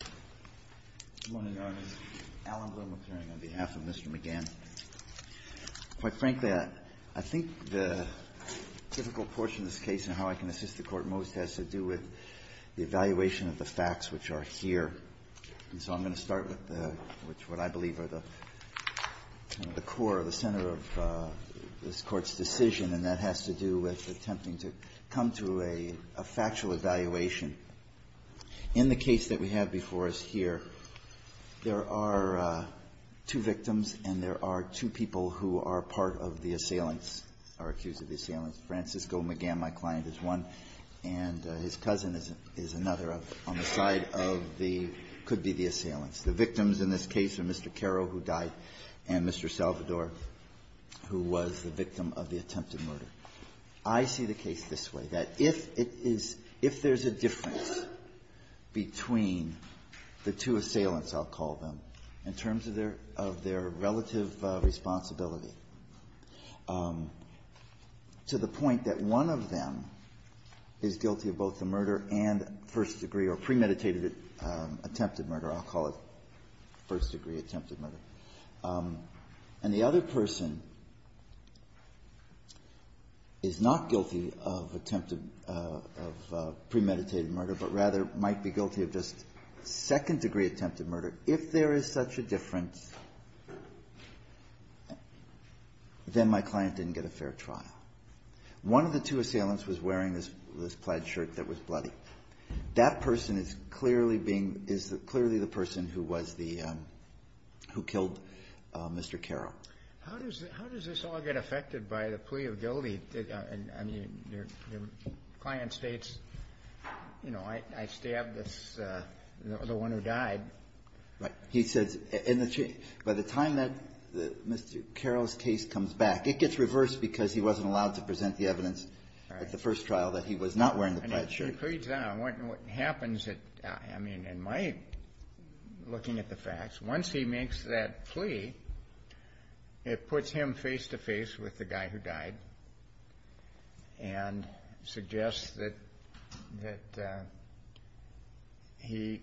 Good morning, Your Honor. Alan Bloom appearing on behalf of Mr. McGann. Quite frankly, I think the difficult portion of this case and how I can assist the Court most has to do with the evaluation of the facts, which are here. And so I'm going to start with what I believe are the core, the center of this Court's decision, and that has to do with attempting to come to a factual evaluation. In the case that we have before us here, there are two victims and there are two people who are part of the assailants, are accused of the assailants. Francisco McGann, my client, is one, and his cousin is another on the side of the — could be the assailants. The victims in this case are Mr. Carro, who died, and Mr. Salvador, who was the victim of the attempted murder. I see the case this way, that if it is — if there's a difference between the two assailants, I'll call them, in terms of their — of their relative responsibility, to the point that one of them is guilty of both the murder and first-degree or premeditated attempted murder, I'll call it first-degree attempted murder, and the other person is not guilty of attempted — of premeditated murder, but rather might be guilty of just second-degree attempted murder. If there is such a difference, then my client didn't get a fair trial. One of the two assailants was wearing this plaid shirt that was bloody. That person is clearly being — is clearly the person who was the — who killed Mr. Carro. How does — how does this all get affected by the plea of guilty? I mean, your client states, you know, I stabbed this — the one who died. Right. He says, in the — by the time that Mr. Carro's case comes back, it gets reversed because he wasn't allowed to present the evidence at the first trial that he was not wearing the plaid shirt. Right. It puts him face-to-face with the guy who died and suggests that — that he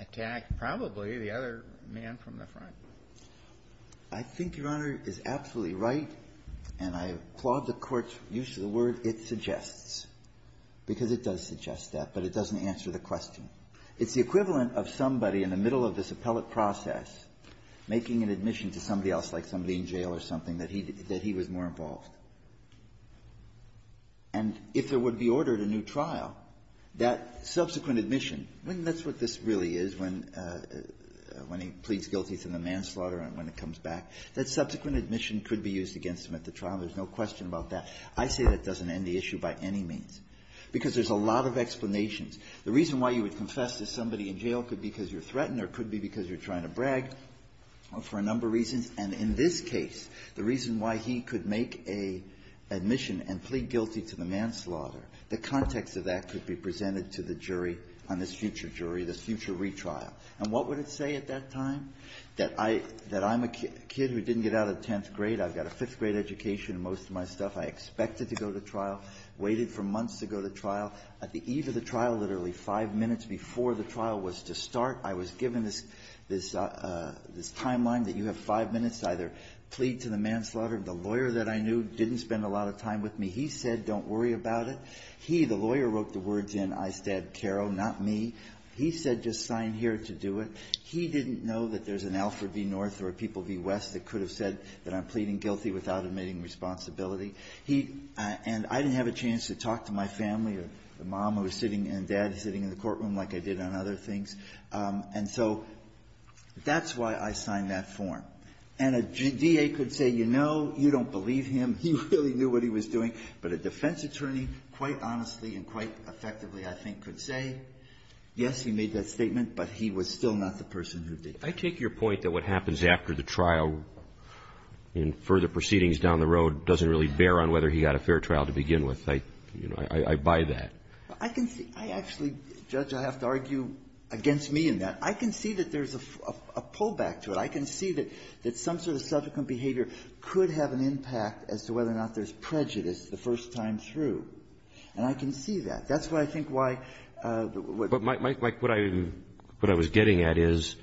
attacked probably the other man from the front. I think Your Honor is absolutely right, and I applaud the Court's use of the word it suggests, because it does suggest that, but it doesn't answer the question. It's the equivalent of somebody in the middle of this appellate process making an admission to somebody else, like somebody in jail or something, that he — that he was more involved. And if there would be ordered a new trial, that subsequent admission, I mean, that's what this really is when — when he pleads guilty to manslaughter and when it comes back. That subsequent admission could be used against him at the trial. There's no question about that. I say that doesn't end the issue by any means, because there's a lot of explanations. The reason why you would confess to somebody in jail could be because you're threatened or could be because you're trying to brag for a number of reasons. And in this case, the reason why he could make a admission and plead guilty to the manslaughter, the context of that could be presented to the jury on this future jury, this future retrial. And what would it say at that time? That I — that I'm a kid who didn't get out of tenth grade, I've got a fifth-grade education and most of all, I was given literally five minutes before the trial was to start. I was given this — this timeline that you have five minutes to either plead to the manslaughter. The lawyer that I knew didn't spend a lot of time with me. He said, don't worry about it. He, the lawyer, wrote the words in, I stabbed Caro, not me. He said, just sign here to do it. He didn't know that there's an Alfred v. North or a People v. West that could have said that I'm pleading guilty without admitting responsibility. He — and I didn't have a chance to talk to my family or the mom who was sitting and dad sitting in the courtroom like I did on other things. And so that's why I signed that form. And a D.A. could say, you know, you don't believe him. He really knew what he was doing. But a defense attorney, quite honestly and quite effectively, I think, could say, yes, he made that statement, but he was still not the person who did it. I take your point that what happens after the trial in further proceedings down the road doesn't really bear on whether he got a fair trial to begin with. I, you know, I buy that. I can see — I actually, Judge, I have to argue against me in that. I can see that there's a pullback to it. I can see that some sort of subsequent behavior could have an impact as to whether or not there's prejudice the first time through. And I can see that. That's what I think why — But, Mike, what I was getting at is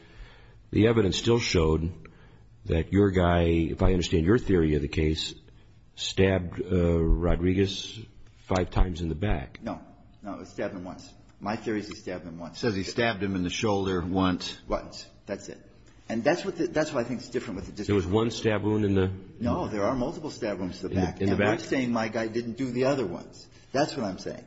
the evidence still showed that your guy, if I understand your theory of the case, stabbed Rodriguez five times in the back. No. No, he stabbed him once. My theory is he stabbed him once. It says he stabbed him in the shoulder once. Once. That's it. And that's what I think is different. There was one stab wound in the — No, there are multiple stab wounds in the back. And I'm saying my guy didn't do the other ones. That's what I'm saying.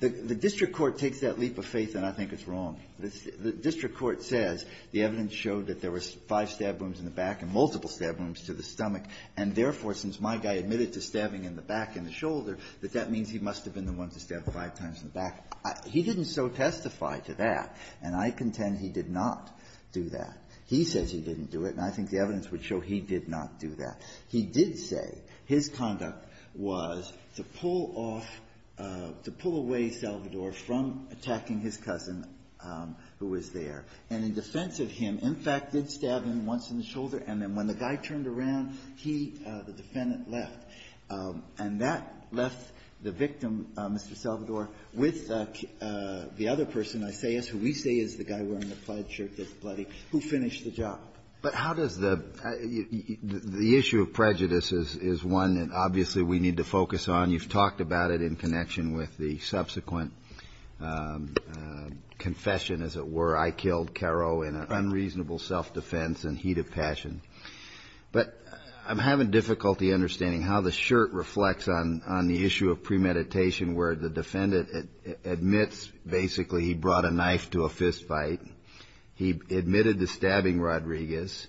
The district court takes that leap of faith, and I think it's wrong. The district court says the evidence showed that there were five stab wounds in the back and multiple stab wounds to the stomach, and therefore, since my guy admitted to stabbing in the back in the shoulder, that that means he must have been the one to stab five times in the back. He didn't so testify to that. And I contend he did not do that. He says he didn't do it, and I think the evidence would show he did not do that. He did say his conduct was to pull off — to pull away Salvador from attacking his cousin, who was there, and in defense of him, in fact, did stab him once in the shoulder, and then when the guy turned around, he, the defendant, left. And that left the victim, Mr. Salvador, with the other person, Isaias, who we say is the guy wearing the plaid shirt that's bloody, who finished the job. But how does the — the issue of prejudice is one that obviously we need to focus on. You've talked about it in connection with the subsequent confession, as it were, I killed Caro in an unreasonable self-defense in heat of passion. But I'm having difficulty understanding how the shirt reflects on the issue of premeditation where the defendant admits basically he brought a knife to a fistfight. He admitted to stabbing Rodriguez.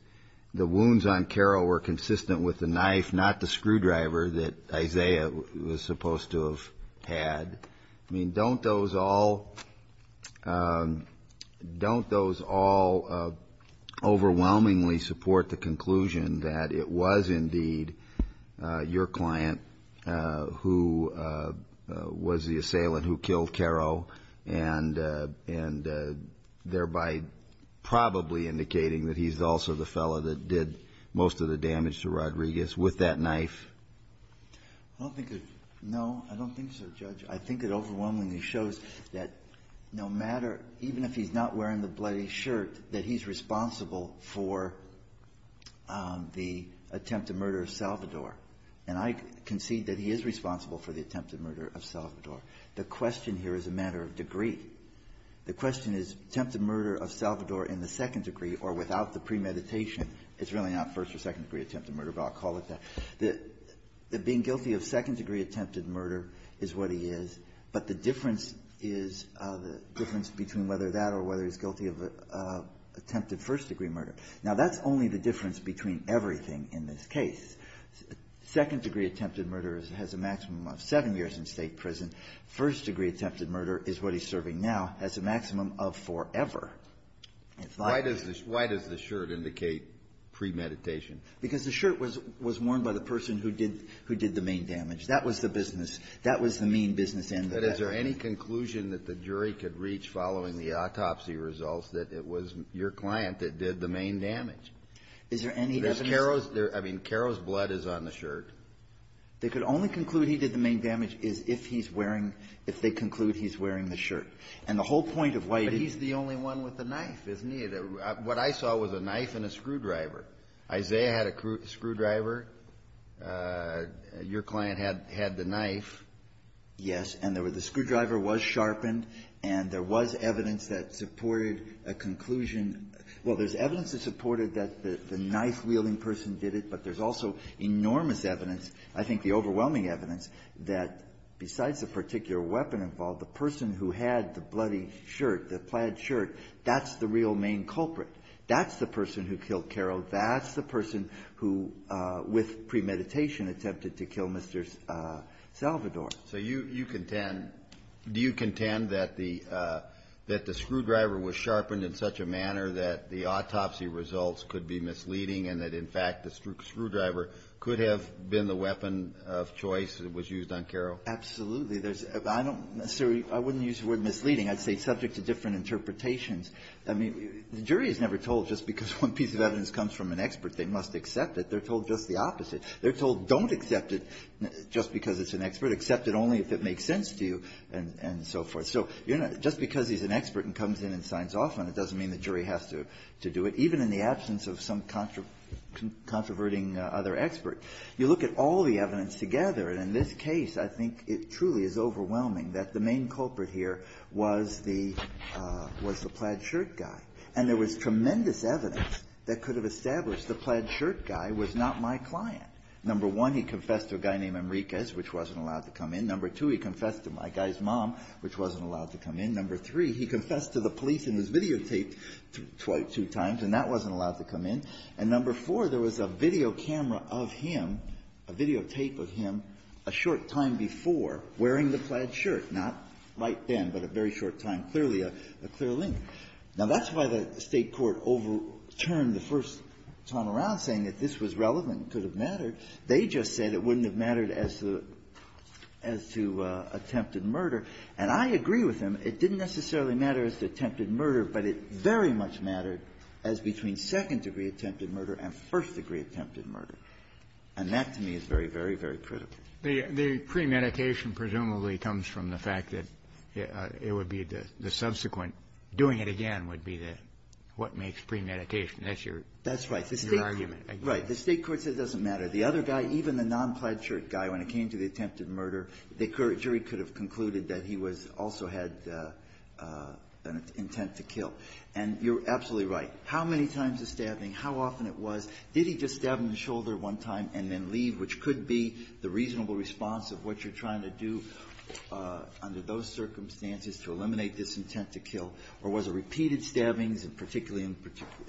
The wounds on Caro were consistent with the knife, not the screwdriver, that Isaias was supposed to have had. I mean, don't those all — don't those all overwhelmingly support the conclusion that it was indeed your client who was the assailant who killed Caro, and thereby probably indicating that he's also the fellow that did most of the damage to Rodriguez with that knife? I don't think — no, I don't think so, Judge. I think it overwhelmingly shows that no matter — even if he's not wearing the bloody shirt, that he's responsible for the attempted murder of Salvador. And I concede that he is responsible for the attempted murder of Salvador. The question here is a matter of degree. The question is attempted murder of Salvador in the second degree or without the premeditation is really not first or second degree attempted murder, but I'll call it that. The being guilty of second-degree attempted murder is what he is, but the difference is the difference between whether that or whether he's guilty of attempted first-degree murder. Now, that's only the difference between everything in this case. Second-degree attempted murder has a maximum of seven years in State prison. First-degree attempted murder is what he's serving now, has a maximum of forever. It's not — Why does the — why does the shirt indicate premeditation? Because the shirt was — was worn by the person who did — who did the main damage. That was the business. That was the mean business end of it. But is there any conclusion that the jury could reach following the autopsy results that it was your client that did the main damage? Is there any evidence? Because Caro's — I mean, Caro's blood is on the shirt. They could only conclude he did the main damage is if he's wearing — if they conclude he's wearing the shirt. And the whole point of why — But he's the only one with a knife, isn't he? What I saw was a knife and a screwdriver. Isaiah had a screwdriver. Your client had the knife. Yes. And there were — the screwdriver was sharpened, and there was evidence that supported a conclusion — well, there's evidence that supported that the knife-wielding person did it, but there's also enormous evidence, I think the overwhelming evidence, that besides the particular weapon involved, the person who had the bloody shirt, the plaid shirt, that's the real main culprit. That's the person who killed Caro. That's the person who, with premeditation, attempted to kill Mr. Salvador. So you contend — do you contend that the screwdriver was sharpened in such a manner that the autopsy results could be misleading and that, in fact, the screwdriver could have been the weapon of choice that was used on Caro? Absolutely. There's — I don't necessarily — I wouldn't use the word misleading. I'd say it's subject to different interpretations. I mean, the jury is never told just because one piece of evidence comes from an expert they must accept it. They're told just the opposite. They're told don't accept it just because it's an expert. Accept it only if it makes sense to you and so forth. So just because he's an expert and comes in and signs off on it doesn't mean the jury has to do it, even in the absence of some controverting other expert. You look at all the evidence together, and in this case, I think it truly is overwhelming that the main culprit here was the — was the plaid shirt guy. And there was tremendous evidence that could have established the plaid shirt guy was not my client. Number one, he confessed to a guy named Enriquez, which wasn't allowed to come in. Number two, he confessed to my guy's mom, which wasn't allowed to come in. Number three, he confessed to the police in his videotape two times, and that wasn't allowed to come in. And number four, there was a video camera of him, a videotape of him a short time before, wearing the plaid shirt, not right then, but a very short time. Clearly a clear link. Now, that's why the State court overturned the first time around, saying that this was relevant, it could have mattered. They just said it wouldn't have mattered as to attempted murder. And I agree with them. It didn't necessarily matter as to attempted murder, but it very much mattered as between second-degree attempted murder and first-degree attempted murder. And that, to me, is very, very, very critical. The premeditation presumably comes from the fact that it would be the subsequent doing it again would be the what makes premeditation. That's your argument. That's right. The State court said it doesn't matter. The other guy, even the non-plaid shirt guy, when it came to the attempted murder, the jury could have concluded that he was also had an intent to kill. And you're absolutely right. How many times the stabbing, how often it was, did he just stab him in the shoulder one time and then leave, which could be the reasonable response of what you're trying to do under those circumstances to eliminate this intent to kill, or was it repeated stabbings, and particularly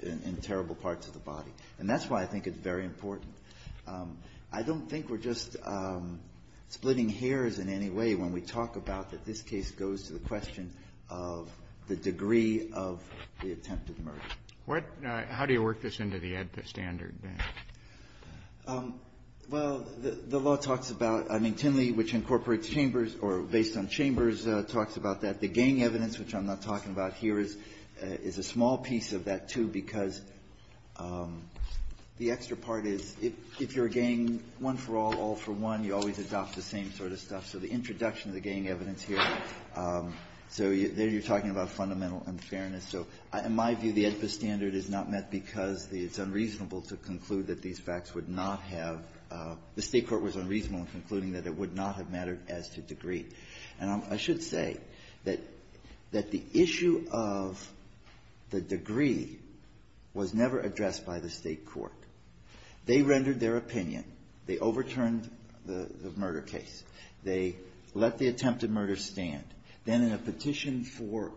in terrible parts of the body? And that's why I think it's very important. I don't think we're just splitting hairs in any way when we talk about that this case goes to the question of the degree of the attempted murder. What do you work this into the AEDPA standard? Well, the law talks about, I mean, Tinley, which incorporates chambers or based on chambers, talks about that. The gang evidence, which I'm not talking about here, is a small piece of that, too, because the extra part is if you're a gang, one for all, all for one, you always adopt the same sort of stuff. So the introduction of the gang evidence here, so there you're talking about fundamental unfairness. So in my view, the AEDPA standard is not met because it's unreasonable to conclude that these facts would not have the State court was unreasonable in concluding that it would not have mattered as to degree. And I should say that the issue of the degree was never addressed by the State court. They rendered their opinion. They overturned the murder case. They let the attempted murder stand. Then in a petition for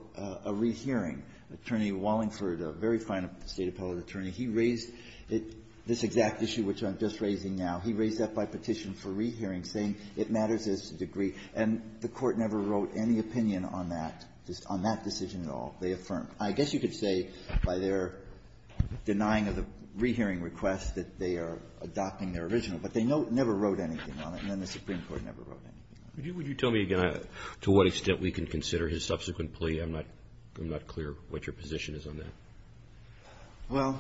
a rehearing, Attorney Wallingford, a very fine State appellate attorney, he raised it, this exact issue which I'm just raising now, he raised that by petition for rehearing, saying it matters as to degree. And the Court never wrote any opinion on that, on that decision at all. They affirmed. I guess you could say by their denying of the rehearing request that they are adopting their original, but they never wrote anything on it, and then the Supreme Court never wrote anything on it. Would you tell me, again, to what extent we can consider his subsequent plea? I'm not clear what your position is on that. Well,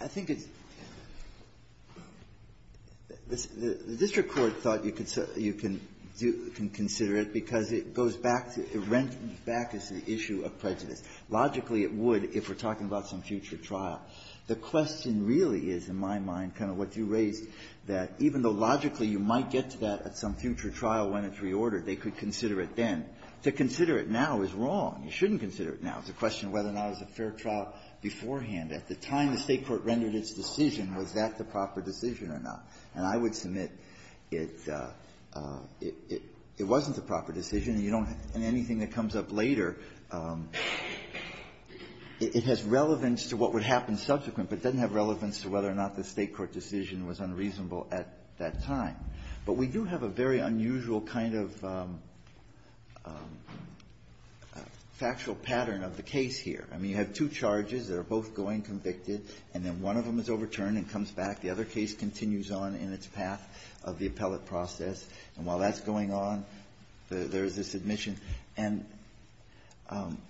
I think it's the district court thought you can consider it because it goes back, it rents back the issue of prejudice. Logically, it would if we're talking about some future trial. The question really is, in my mind, kind of what you raised, that even though logically you might get to that at some future trial when it's reordered, they could consider it then. To consider it now is wrong. You shouldn't consider it now. It's a question of whether or not it was a fair trial beforehand. At the time the State court rendered its decision, was that the proper decision or not? And I would submit it wasn't the proper decision, and you don't anything that comes up later, it has relevance to what would happen subsequent, but doesn't have relevance to whether or not the State court decision was unreasonable at that time. But we do have a very unusual kind of factual pattern of the case here. I mean, you have two charges that are both going convicted, and then one of them is overturned and comes back. The other case continues on in its path of the appellate process. And while that's going on, there's this admission. And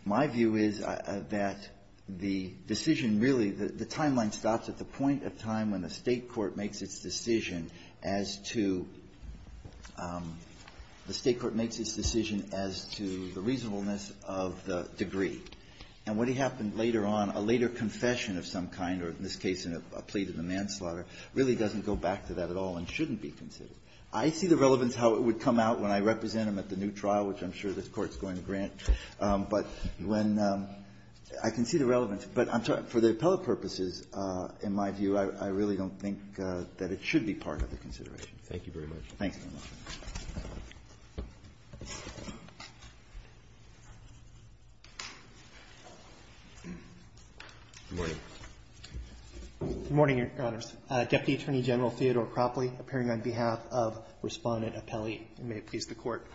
my view is that the decision really, the timeline stops at the point of time when the State court makes its decision as to the State court makes its decision as to the reasonableness of the degree. And what happened later on, a later confession of some kind, or in this case, a plea to the manslaughter, really doesn't go back to that at all and shouldn't be considered. I see the relevance how it would come out when I represent them at the new trial, which I'm sure this Court's going to grant. But when the – I can see the relevance. But for the appellate purposes, in my view, I really don't think that it should be part of the consideration. Roberts. Thank you very much. Thanks, Your Honor. Good morning, Your Honors. Deputy Attorney General Theodore Cropley appearing on behalf of Respondent Apelli, and may it please the Court.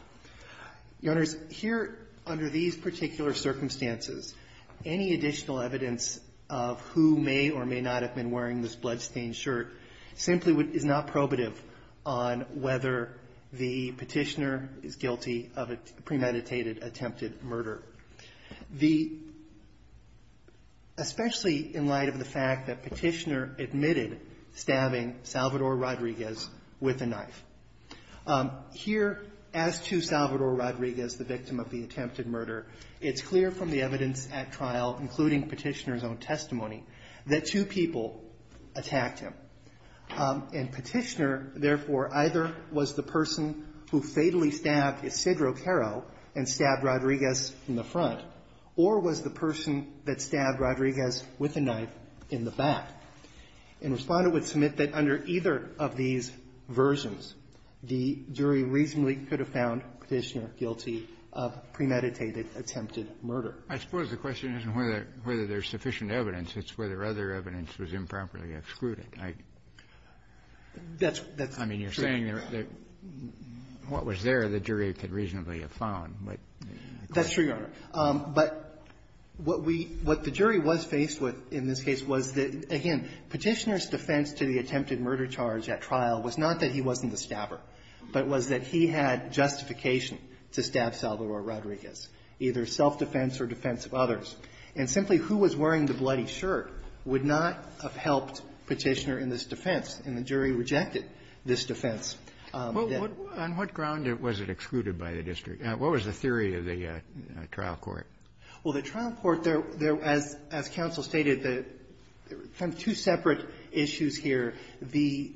Your Honors, here, under these particular circumstances, any additional evidence of who may or may not have been wearing this bloodstained shirt simply is not probative on whether the Petitioner is guilty of a premeditated attempted murder. The – especially in light of the fact that Petitioner admitted stabbing Salvador Rodriguez with a knife. Here, as to Salvador Rodriguez, the victim of the attempted murder, it's clear from the evidence at trial, including Petitioner's own testimony, that two people attacked him. And Petitioner, therefore, either was the person who fatally stabbed Isidro Caro and stabbed Rodriguez in the front, or was the person that stabbed Rodriguez with a knife in the back. And Respondent would submit that under either of these versions, the jury reasonably could have found Petitioner guilty of premeditated attempted murder. I suppose the question isn't whether there's sufficient evidence. It's whether other evidence was improperly excluded. I mean, you're saying that what was there, the jury could reasonably have found. That's true, Your Honor. But what we – what the jury was faced with in this case was that, again, Petitioner's defense to the attempted murder charge at trial was not that he wasn't the stabber, but was that he had justification to stab Salvador Rodriguez, either self-defense or defense of others. And simply who was wearing the bloody shirt would not have helped Petitioner in this defense, and the jury rejected this defense. Well, what – on what ground was it excluded by the district? What was the theory of the trial court? Well, the trial court, there – as counsel stated, there were kind of two separate issues here. The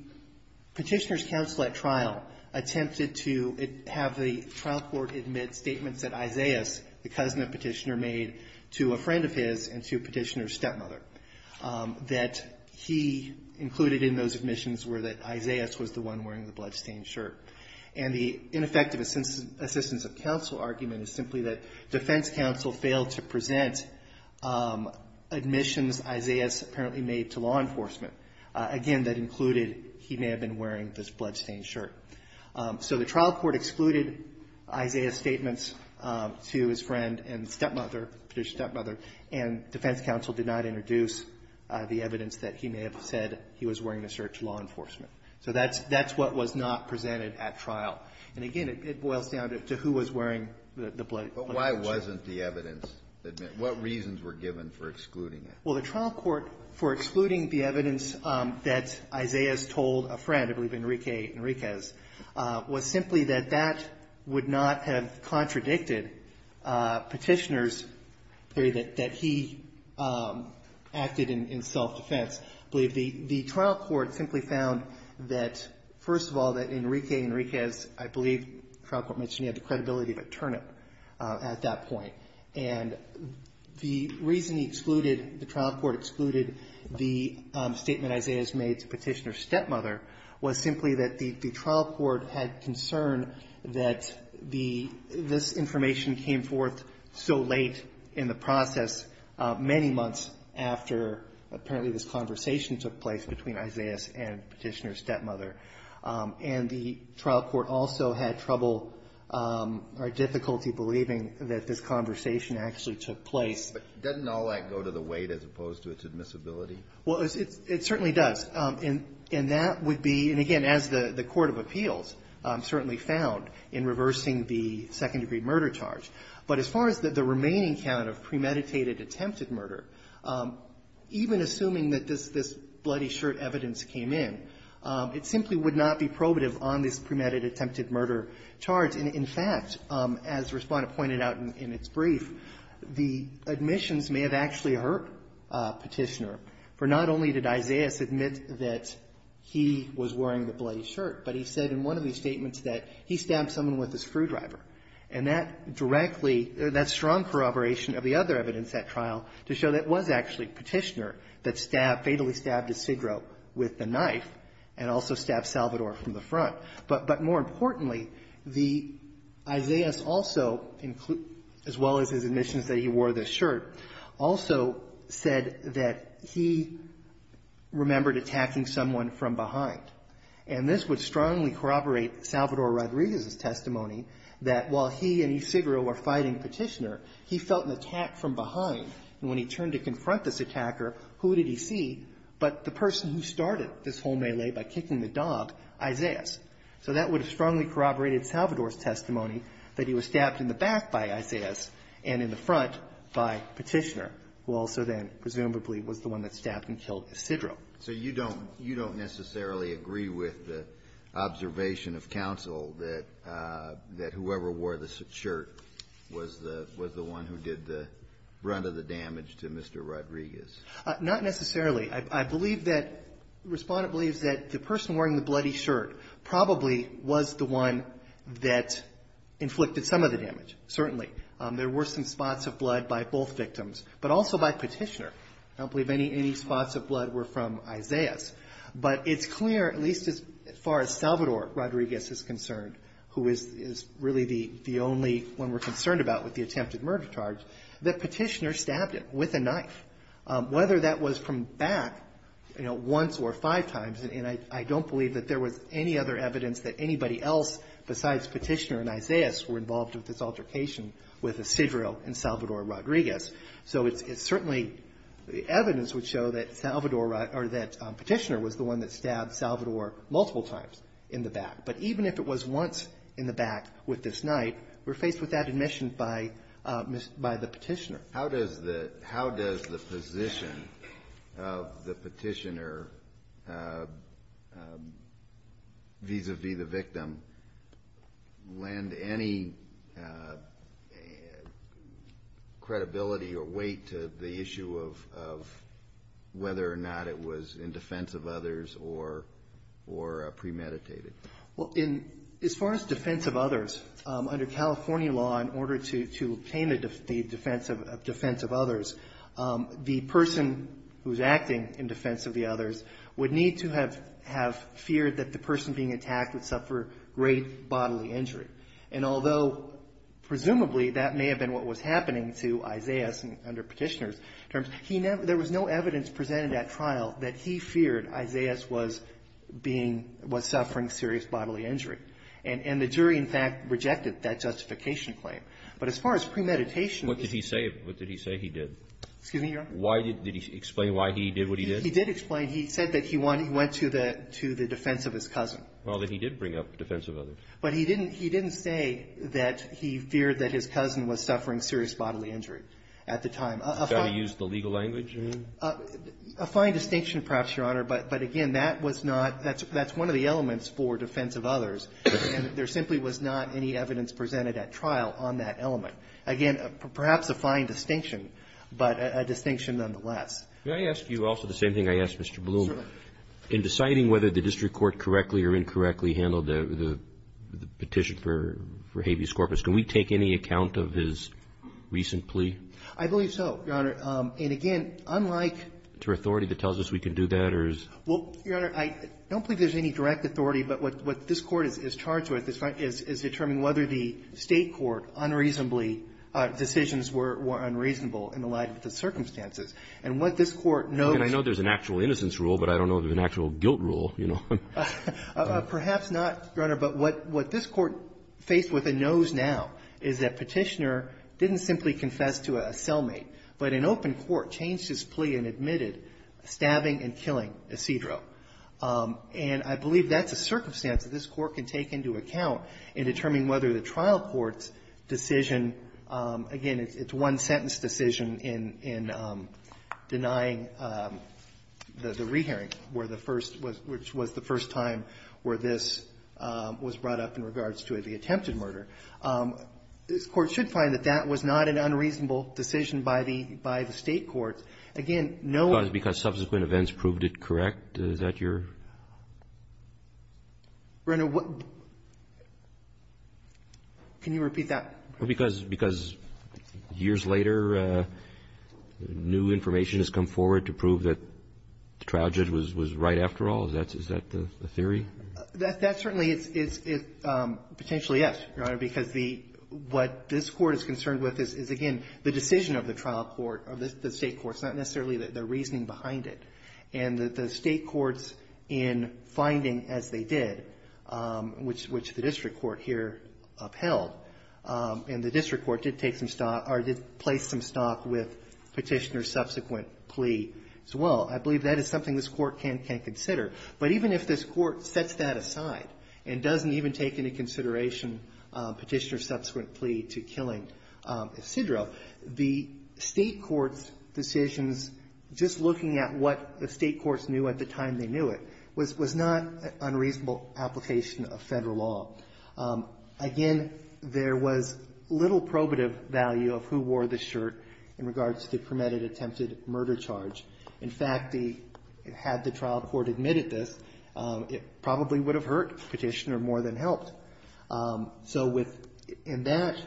Petitioner's counsel at trial attempted to have the trial court admit statements that Isaias, the cousin of Petitioner, made to a friend of his and to Petitioner's stepmother, that he included in those admissions were that Isaias was the one wearing the blood-stained shirt. And the ineffective assistance of counsel argument is simply that defense counsel failed to present admissions Isaias apparently made to law enforcement. Again, that included he may have been wearing this blood-stained shirt. So the trial court excluded Isaias' statements to his friend and stepmother, Petitioner's stepmother, and defense counsel did not introduce the evidence that he may have said he was wearing the shirt to law enforcement. So that's – that's what was not presented at trial. And again, it boils down to who was wearing the blood-stained shirt. But why wasn't the evidence – what reasons were given for excluding it? Well, the trial court, for excluding the evidence that Isaias told a friend, I believe Enrique Enriquez, was simply that that would not have contradicted Petitioner's theory that he acted in self-defense. I believe the – the trial court simply found that, first of all, that Enrique Enriquez, I believe the trial court mentioned he had the credibility of a turnip at that point. And the reason he excluded – the trial court excluded the statement Isaias made to Petitioner's stepmother was simply that the trial court had concern that the – this information came forth so late in the process, many months after, apparently, this conversation took place between Isaias and Petitioner's stepmother. And the trial court also had trouble or difficulty believing that this conversation actually took place. But doesn't all that go to the weight as opposed to its admissibility? Well, it certainly does. And that would be – and again, as the court of appeals certainly found in reversing the second-degree murder charge. But as far as the remaining count of premeditated attempted murder, even assuming that this – this bloody shirt evidence came in, it simply would not be probative on this premeditated attempted murder charge. And in fact, as Respondent pointed out in its brief, the admissions may have actually hurt Petitioner, for not only did Isaias admit that he was wearing the bloody shirt, but he said in one of his statements that he stabbed someone with a screwdriver. And that directly – that strong corroboration of the other evidence at trial to show that it was actually Petitioner that stabbed – fatally stabbed Ysigro with the knife and also stabbed Salvador from the front. But more importantly, the – Isaias also – as well as his admissions that he wore this shirt, also said that he remembered attacking someone from behind. And this would strongly corroborate Salvador Rodriguez's testimony that while he and Ysigro were fighting Petitioner, he felt an attack from behind. And when he turned to confront this attacker, who did he see but the person who started this whole melee by kicking the dog, Isaias. So that would have strongly corroborated Salvador's testimony that he was stabbed in the back by Isaias and in the front by Petitioner, who also then presumably was the one that stabbed and killed Ysigro. So you don't – you don't necessarily agree with the observation of counsel that whoever wore the shirt was the – was the one who did the – run of the damage to Mr. Rodriguez? Not necessarily. I believe that – the Respondent believes that the person wearing the bloody shirt probably was the one that inflicted some of the damage, certainly. There were some spots of blood by both victims, but also by Petitioner. I don't believe any – any spots of blood were from Isaias. But it's clear, at least as far as Salvador Rodriguez is concerned, who is – is really the – the only one we're concerned about with the attempted murder charge, that Petitioner stabbed him with a knife, whether that was from back, you know, once or five times. And I – I don't believe that there was any other evidence that anybody else besides Petitioner and Isaias were involved with this altercation with Ysigro and Salvador Rodriguez. So it's – it's certainly – the evidence would show that Salvador – or that Petitioner was the one that stabbed Salvador multiple times in the back. But even if it was once in the back with this knife, we're faced with that admission by – by the Petitioner. How does the – how does the position of the Petitioner vis-à-vis the victim lend any credibility or weight to the issue of – of whether or not it was in defense of others or – or premeditated? Well, in – as far as defense of others, under California law, in order to – to obtain the defense of – defense of others, the person who's acting in defense of the others would need to have – have feared that the person being attacked would suffer great bodily injury. And although, presumably, that may have been what was happening to Isaias under Petitioner's terms, he never – there was no evidence presented at trial that he feared Isaias was being – was suffering serious bodily injury. And – and the jury, in fact, rejected that justification claim. But as far as premeditation was concerned… What did he say – what did he say he did? Excuse me, Your Honor? Why did – did he explain why he did what he did? He did explain. He said that he went – he went to the – to the defense of his cousin. Well, then he did bring up defense of others. But he didn't – he didn't say that he feared that his cousin was suffering serious bodily injury at the time. A fine… You've got to use the legal language, you mean? A fine distinction, perhaps, Your Honor, but – but again, that was not – that's – that's one of the elements for defense of others, and there simply was not any evidence presented at trial on that element. Again, perhaps a fine distinction, but a distinction nonetheless. May I ask you also the same thing I asked Mr. Bloom? Certainly. In deciding whether the district court correctly or incorrectly handled the petition for habeas corpus, can we take any account of his recent plea? I believe so, Your Honor, and again, unlike… Is there authority that tells us we can do that, or is… Well, Your Honor, I don't believe there's any direct authority, but what this court is charged with is determining whether the state court unreasonably – decisions were unreasonable in the light of the circumstances. And what this court knows… Well, I don't know if there's an actual rule, but I don't know if there's an actual guilt rule, you know. Perhaps not, Your Honor, but what – what this court faced with and knows now is that Petitioner didn't simply confess to a cellmate, but in open court changed his plea and admitted stabbing and killing Isidro. And I believe that's a circumstance that this court can take into account in determining whether the trial court's decision – again, it's one-sentence decision in denying the re-hearing, where the first – which was the first time where this was brought up in regards to the attempted murder. This court should find that that was not an unreasonable decision by the – by the state courts. Again, no one… Because subsequent events proved it correct? Is that your… Your Honor, what – can you repeat that? Because – because years later, new information has come forward to prove that the trial judge was – was right after all? Is that – is that the theory? That – that certainly is – is – potentially, yes, Your Honor, because the – what this court is concerned with is, again, the decision of the trial court, of the state courts, not necessarily the reasoning behind it. And the state courts, in finding, as they did, which – which the district court here upheld, and the district court did take some – or did place some stock with Petitioner's subsequent plea as well. I believe that is something this court can – can consider. But even if this court sets that aside and doesn't even take into consideration Petitioner's subsequent plea to killing Isidro, the state court's decisions, just looking at what the state courts knew at the time they knew it, was – was not an Again, there was little probative value of who wore the shirt in regards to the permitted attempted murder charge. In fact, the – had the trial court admitted this, it probably would have hurt Petitioner more than helped. So with – in that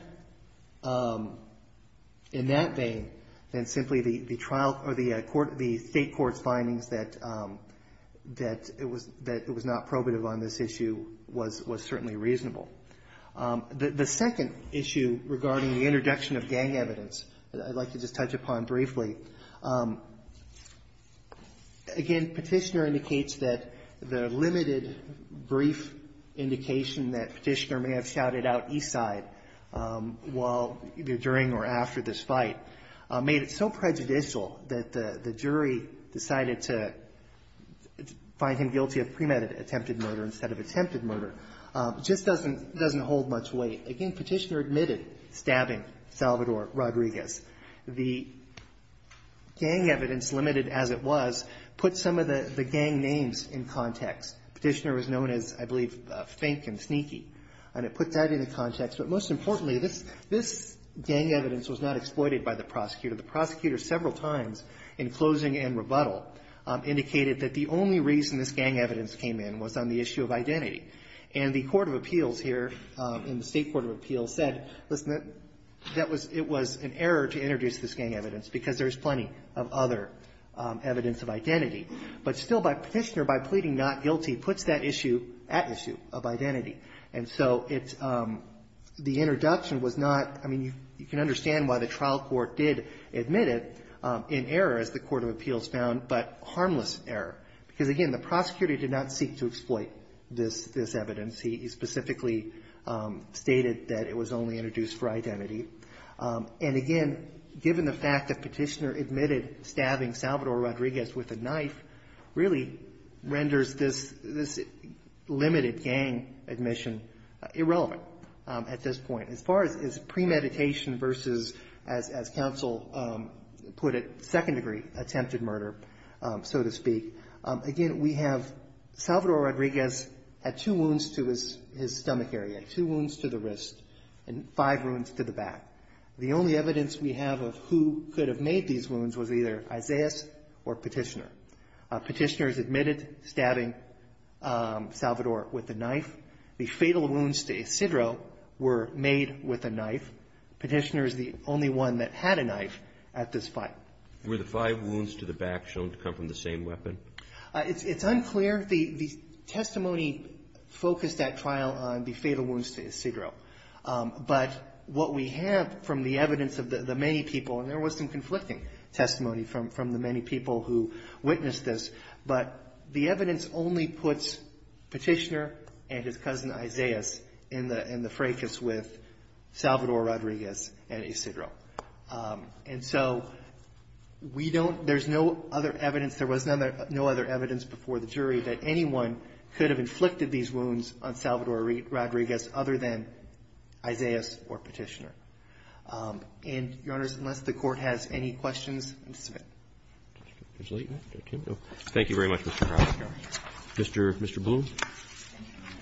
– in that vein, then simply the trial – or the court – the state court's findings that – that it was – that it was not probative on this issue was – was certainly reasonable. The – the second issue regarding the introduction of gang evidence that I'd like to just touch upon briefly, again, Petitioner indicates that the limited brief indication that Petitioner may have shouted out Isidro while – either during or after this fight made it so prejudicial that the – the jury decided to find him guilty of premeditated attempted murder instead of attempted murder, just doesn't – doesn't hold much weight. Again, Petitioner admitted stabbing Salvador Rodriguez. The gang evidence, limited as it was, put some of the – the gang names in context. Petitioner was known as, I believe, Fink and Sneaky, and it put that into context. But most importantly, this – this gang evidence was not exploited by the prosecutor. The prosecutor several times in closing and rebuttal indicated that the only reason this gang evidence came in was on the issue of identity. And the court of appeals here, in the state court of appeals, said, listen, that – that was – it was an error to introduce this gang evidence because there's plenty of other evidence of identity. But still, by – Petitioner, by pleading not guilty, puts that issue at issue of identity. And so it's – the introduction was not – I mean, you can understand why the trial court did admit it in error, as the court of appeals found, but harmless error. Because again, the prosecutor did not seek to exploit this – this evidence. He specifically stated that it was only introduced for identity. And again, given the fact that Petitioner admitted stabbing Salvador Rodriguez with a knife, really renders this – this limited gang admission irrelevant at this point. As far as premeditation versus, as counsel put it, second-degree attempted murder, so to speak, again, we have Salvador Rodriguez had two wounds to his – his stomach area, two wounds to the wrist, and five wounds to the back. The only evidence we have of who could have made these wounds was either Isaias or Petitioner. Petitioner has admitted stabbing Salvador with a knife. The fatal wounds to Isidro were made with a knife. Petitioner is the only one that had a knife at this point. Were the five wounds to the back shown to come from the same weapon? It's unclear. The testimony focused that trial on the fatal wounds to Isidro. But what we have from the evidence of the many people – and there was some conflicting testimony from the many people who witnessed this – but the evidence only puts Petitioner and his cousin Isaias in the – in the fracas with Salvador Rodriguez and Isidro. And so we don't – there's no other evidence – there was no other evidence before the jury that anyone could have inflicted these wounds on Salvador Rodriguez other than Isaias or Petitioner. And, Your Honors, unless the Court has any questions, I'm going to submit. Roberts. Thank you very much, Mr. Howard. Mr. – Mr. Bloom. Thank you,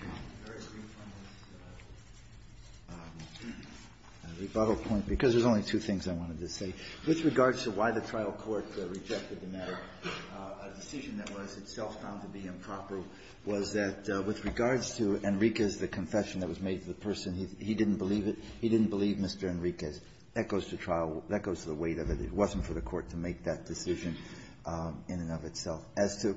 Your Honor. A very brief one with a rebuttal point, because there's only two things I wanted to say. With regards to why the trial court rejected the matter, a decision that was itself found to be improper was that with regards to Enriquez, the confession that was made to the person, he didn't believe it. He didn't believe Mr. Enriquez. That goes to trial. That goes to the weight of it. It wasn't for the Court to make that decision in and of itself. As to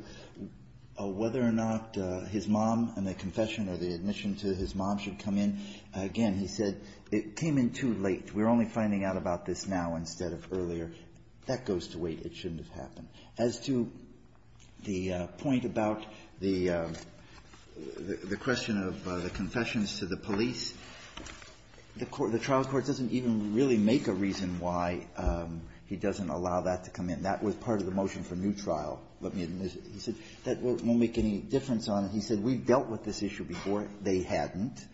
whether or not his mom and the confession or the admission to his mom should come in, again, he said, it came in too late. We're only finding out about this now instead of earlier. That goes to weight. It shouldn't have happened. As to the point about the question of the confessions to the police, the trial court doesn't even really make a reason why he doesn't allow that to come in. That was part of the motion for new trial. He said, that won't make any difference on it. He said, we've dealt with this issue before. They hadn't.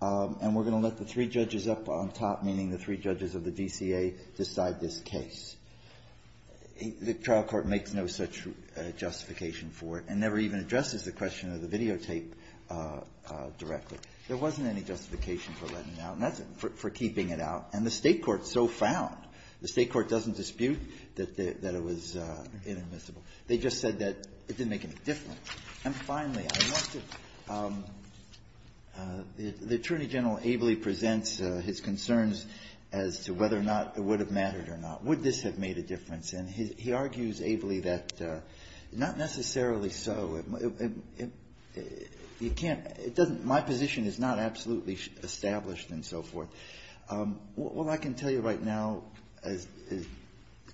And we're going to let the three judges up on top, meaning the three judges of the DCA, decide this case. The trial court makes no such justification for it and never even addresses the question of the videotape directly. There wasn't any justification for letting it out, for keeping it out. And the State court so found, the State court doesn't dispute that it was inadmissible. They just said that it didn't make any difference. And finally, I want to – the Attorney General ably presents his concerns as to whether or not it would have mattered or not. Would this have made a difference? And he argues ably that not necessarily so. It can't – it doesn't – my position is not absolutely established and so forth. All I can tell you right now, as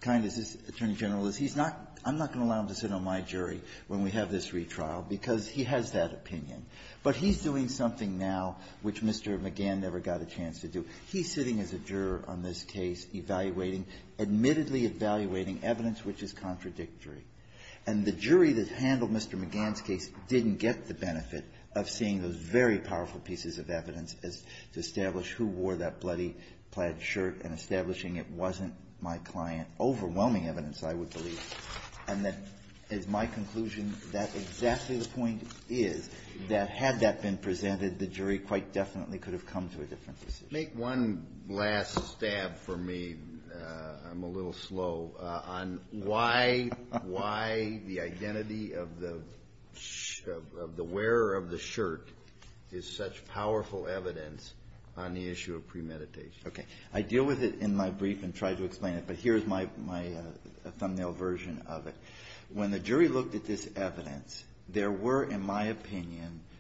kind as this Attorney General is, he's not – I'm not going to allow him to sit on my jury when we have this retrial, because he has that opinion. But he's doing something now which Mr. McGann never got a chance to do. He's sitting as a juror on this case, evaluating – admittedly evaluating evidence which is contradictory. And the jury that handled Mr. McGann's case didn't get the benefit of seeing those very powerful pieces of evidence as – to establish who wore that bloody plaid shirt and establishing it wasn't my client. Overwhelming evidence, I would believe. And that is my conclusion. That's exactly the point is that had that been presented, the jury quite definitely could have come to a different decision. Make one last stab for me – I'm a little slow – on why – why the identity of the – of the wearer of the shirt is such powerful evidence on the issue of premeditation. Okay. I deal with it in my brief and try to explain it, but here's my – my thumbnail version of it. When the jury looked at this evidence, there were, in my opinion –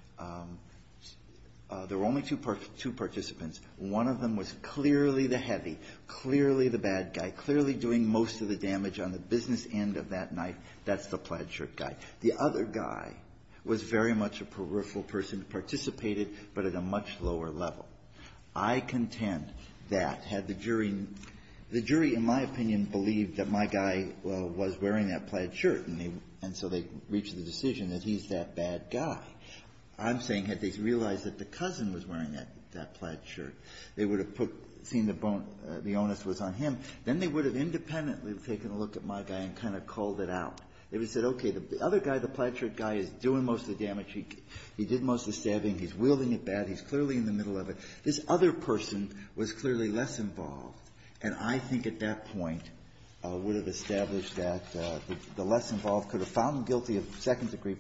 there were only two – two participants. One of them was clearly the heavy, clearly the bad guy, clearly doing most of the damage on the business end of that night. That's the plaid shirt guy. The other guy was very much a peripheral person who participated, but at a much lower level. I contend that had the jury – the jury, in my opinion, believed that my guy was wearing that plaid shirt, and they – and so they reached the decision that he's that bad guy. I'm saying had they realized that the cousin was wearing that – that plaid shirt, they would have put – seen the bone – the onus was on him. Then they would have independently taken a look at my guy and kind of called it out. They would have said, okay, the other guy, the plaid shirt guy, is doing most of the damage. He did most of the stabbing. He's wielding it bad. He's clearly in the middle of it. This other person was clearly less involved. And I think at that point would have established that the less involved could have found him guilty of second-degree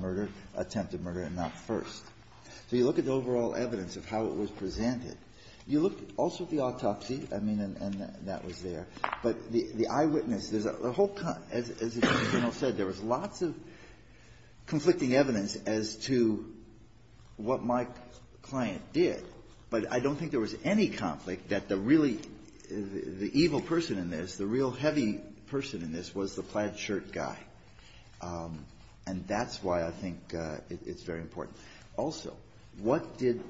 murder, attempted murder, and not first. So you look at the overall evidence of how it was presented. You look also at the autopsy. I mean, and that was there. But the eyewitness – there's a whole – as the Attorney General said, there was lots of conflicting evidence as to what my client did. But I don't think there was any conflict that the really – the evil person in this, the real heavy person in this, was the plaid shirt guy. And that's why I think it's very important. Also, what did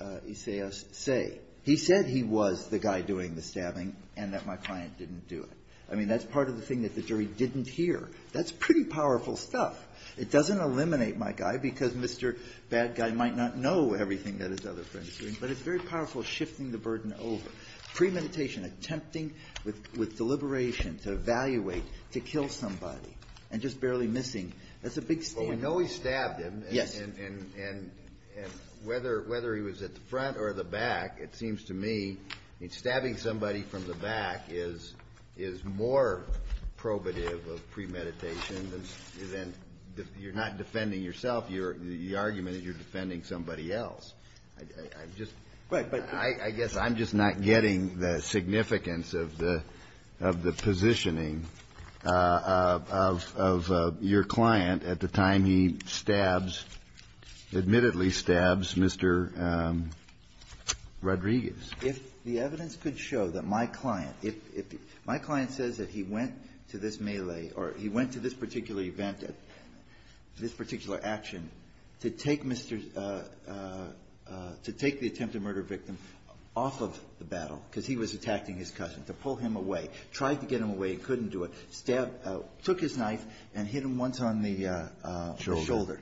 Isaias say? He said he was the guy doing the stabbing and that my client didn't do it. I mean, that's part of the thing that the jury didn't hear. That's pretty powerful stuff. It doesn't eliminate my guy, because Mr. Bad Guy might not know everything that his other friend is doing. But it's very powerful, shifting the burden over. Premeditation, attempting with deliberation to evaluate, to kill somebody, and just barely missing, that's a big standoff. Kennedy. Well, we know he stabbed him. Verrilli,, and whether he was at the front or the back, it seems to me, stabbing somebody from the back is more probative of premeditation than – you're not defending yourself. You're – the argument is you're defending somebody else. I'm just – I guess I'm just not getting the significance of the positioning of your client at the time he stabs – admittedly stabs Mr. Rodriguez. If the evidence could show that my client – if my client says that he went to this melee, or he went to this particular event, this particular action, to take Mr. – to take the attempted murder victim off of the battle, because he was attacking his cousin, to pull him away, tried to get him away, couldn't do it, stabbed – took his knife and hit him once on the shoulder.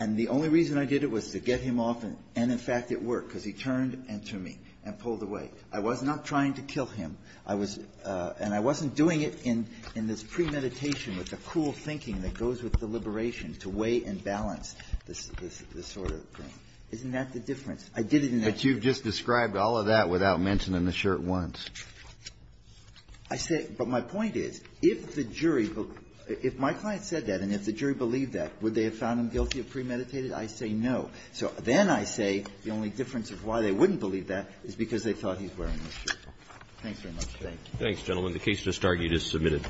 And the only reason I did it was to get him off and, in fact, it worked, because he turned and to me and pulled away. I was not trying to kill him. I was – and I wasn't doing it in – in this premeditation with the cool thinking that goes with the liberation to weigh and balance this – this sort of thing. Isn't that the difference? I did it in that – Kennedy, but you've just described all of that without mentioning the shirt once. Verrilli, I say – but my point is, if the jury – if my client said that, and if the jury believed that, would they have found him guilty of premeditated? I say no. So then I say the only difference of why they wouldn't believe that is because they thought he's wearing the shirt. Thanks very much. Thank you. Roberts. Thanks, gentlemen. The case just argued is submitted.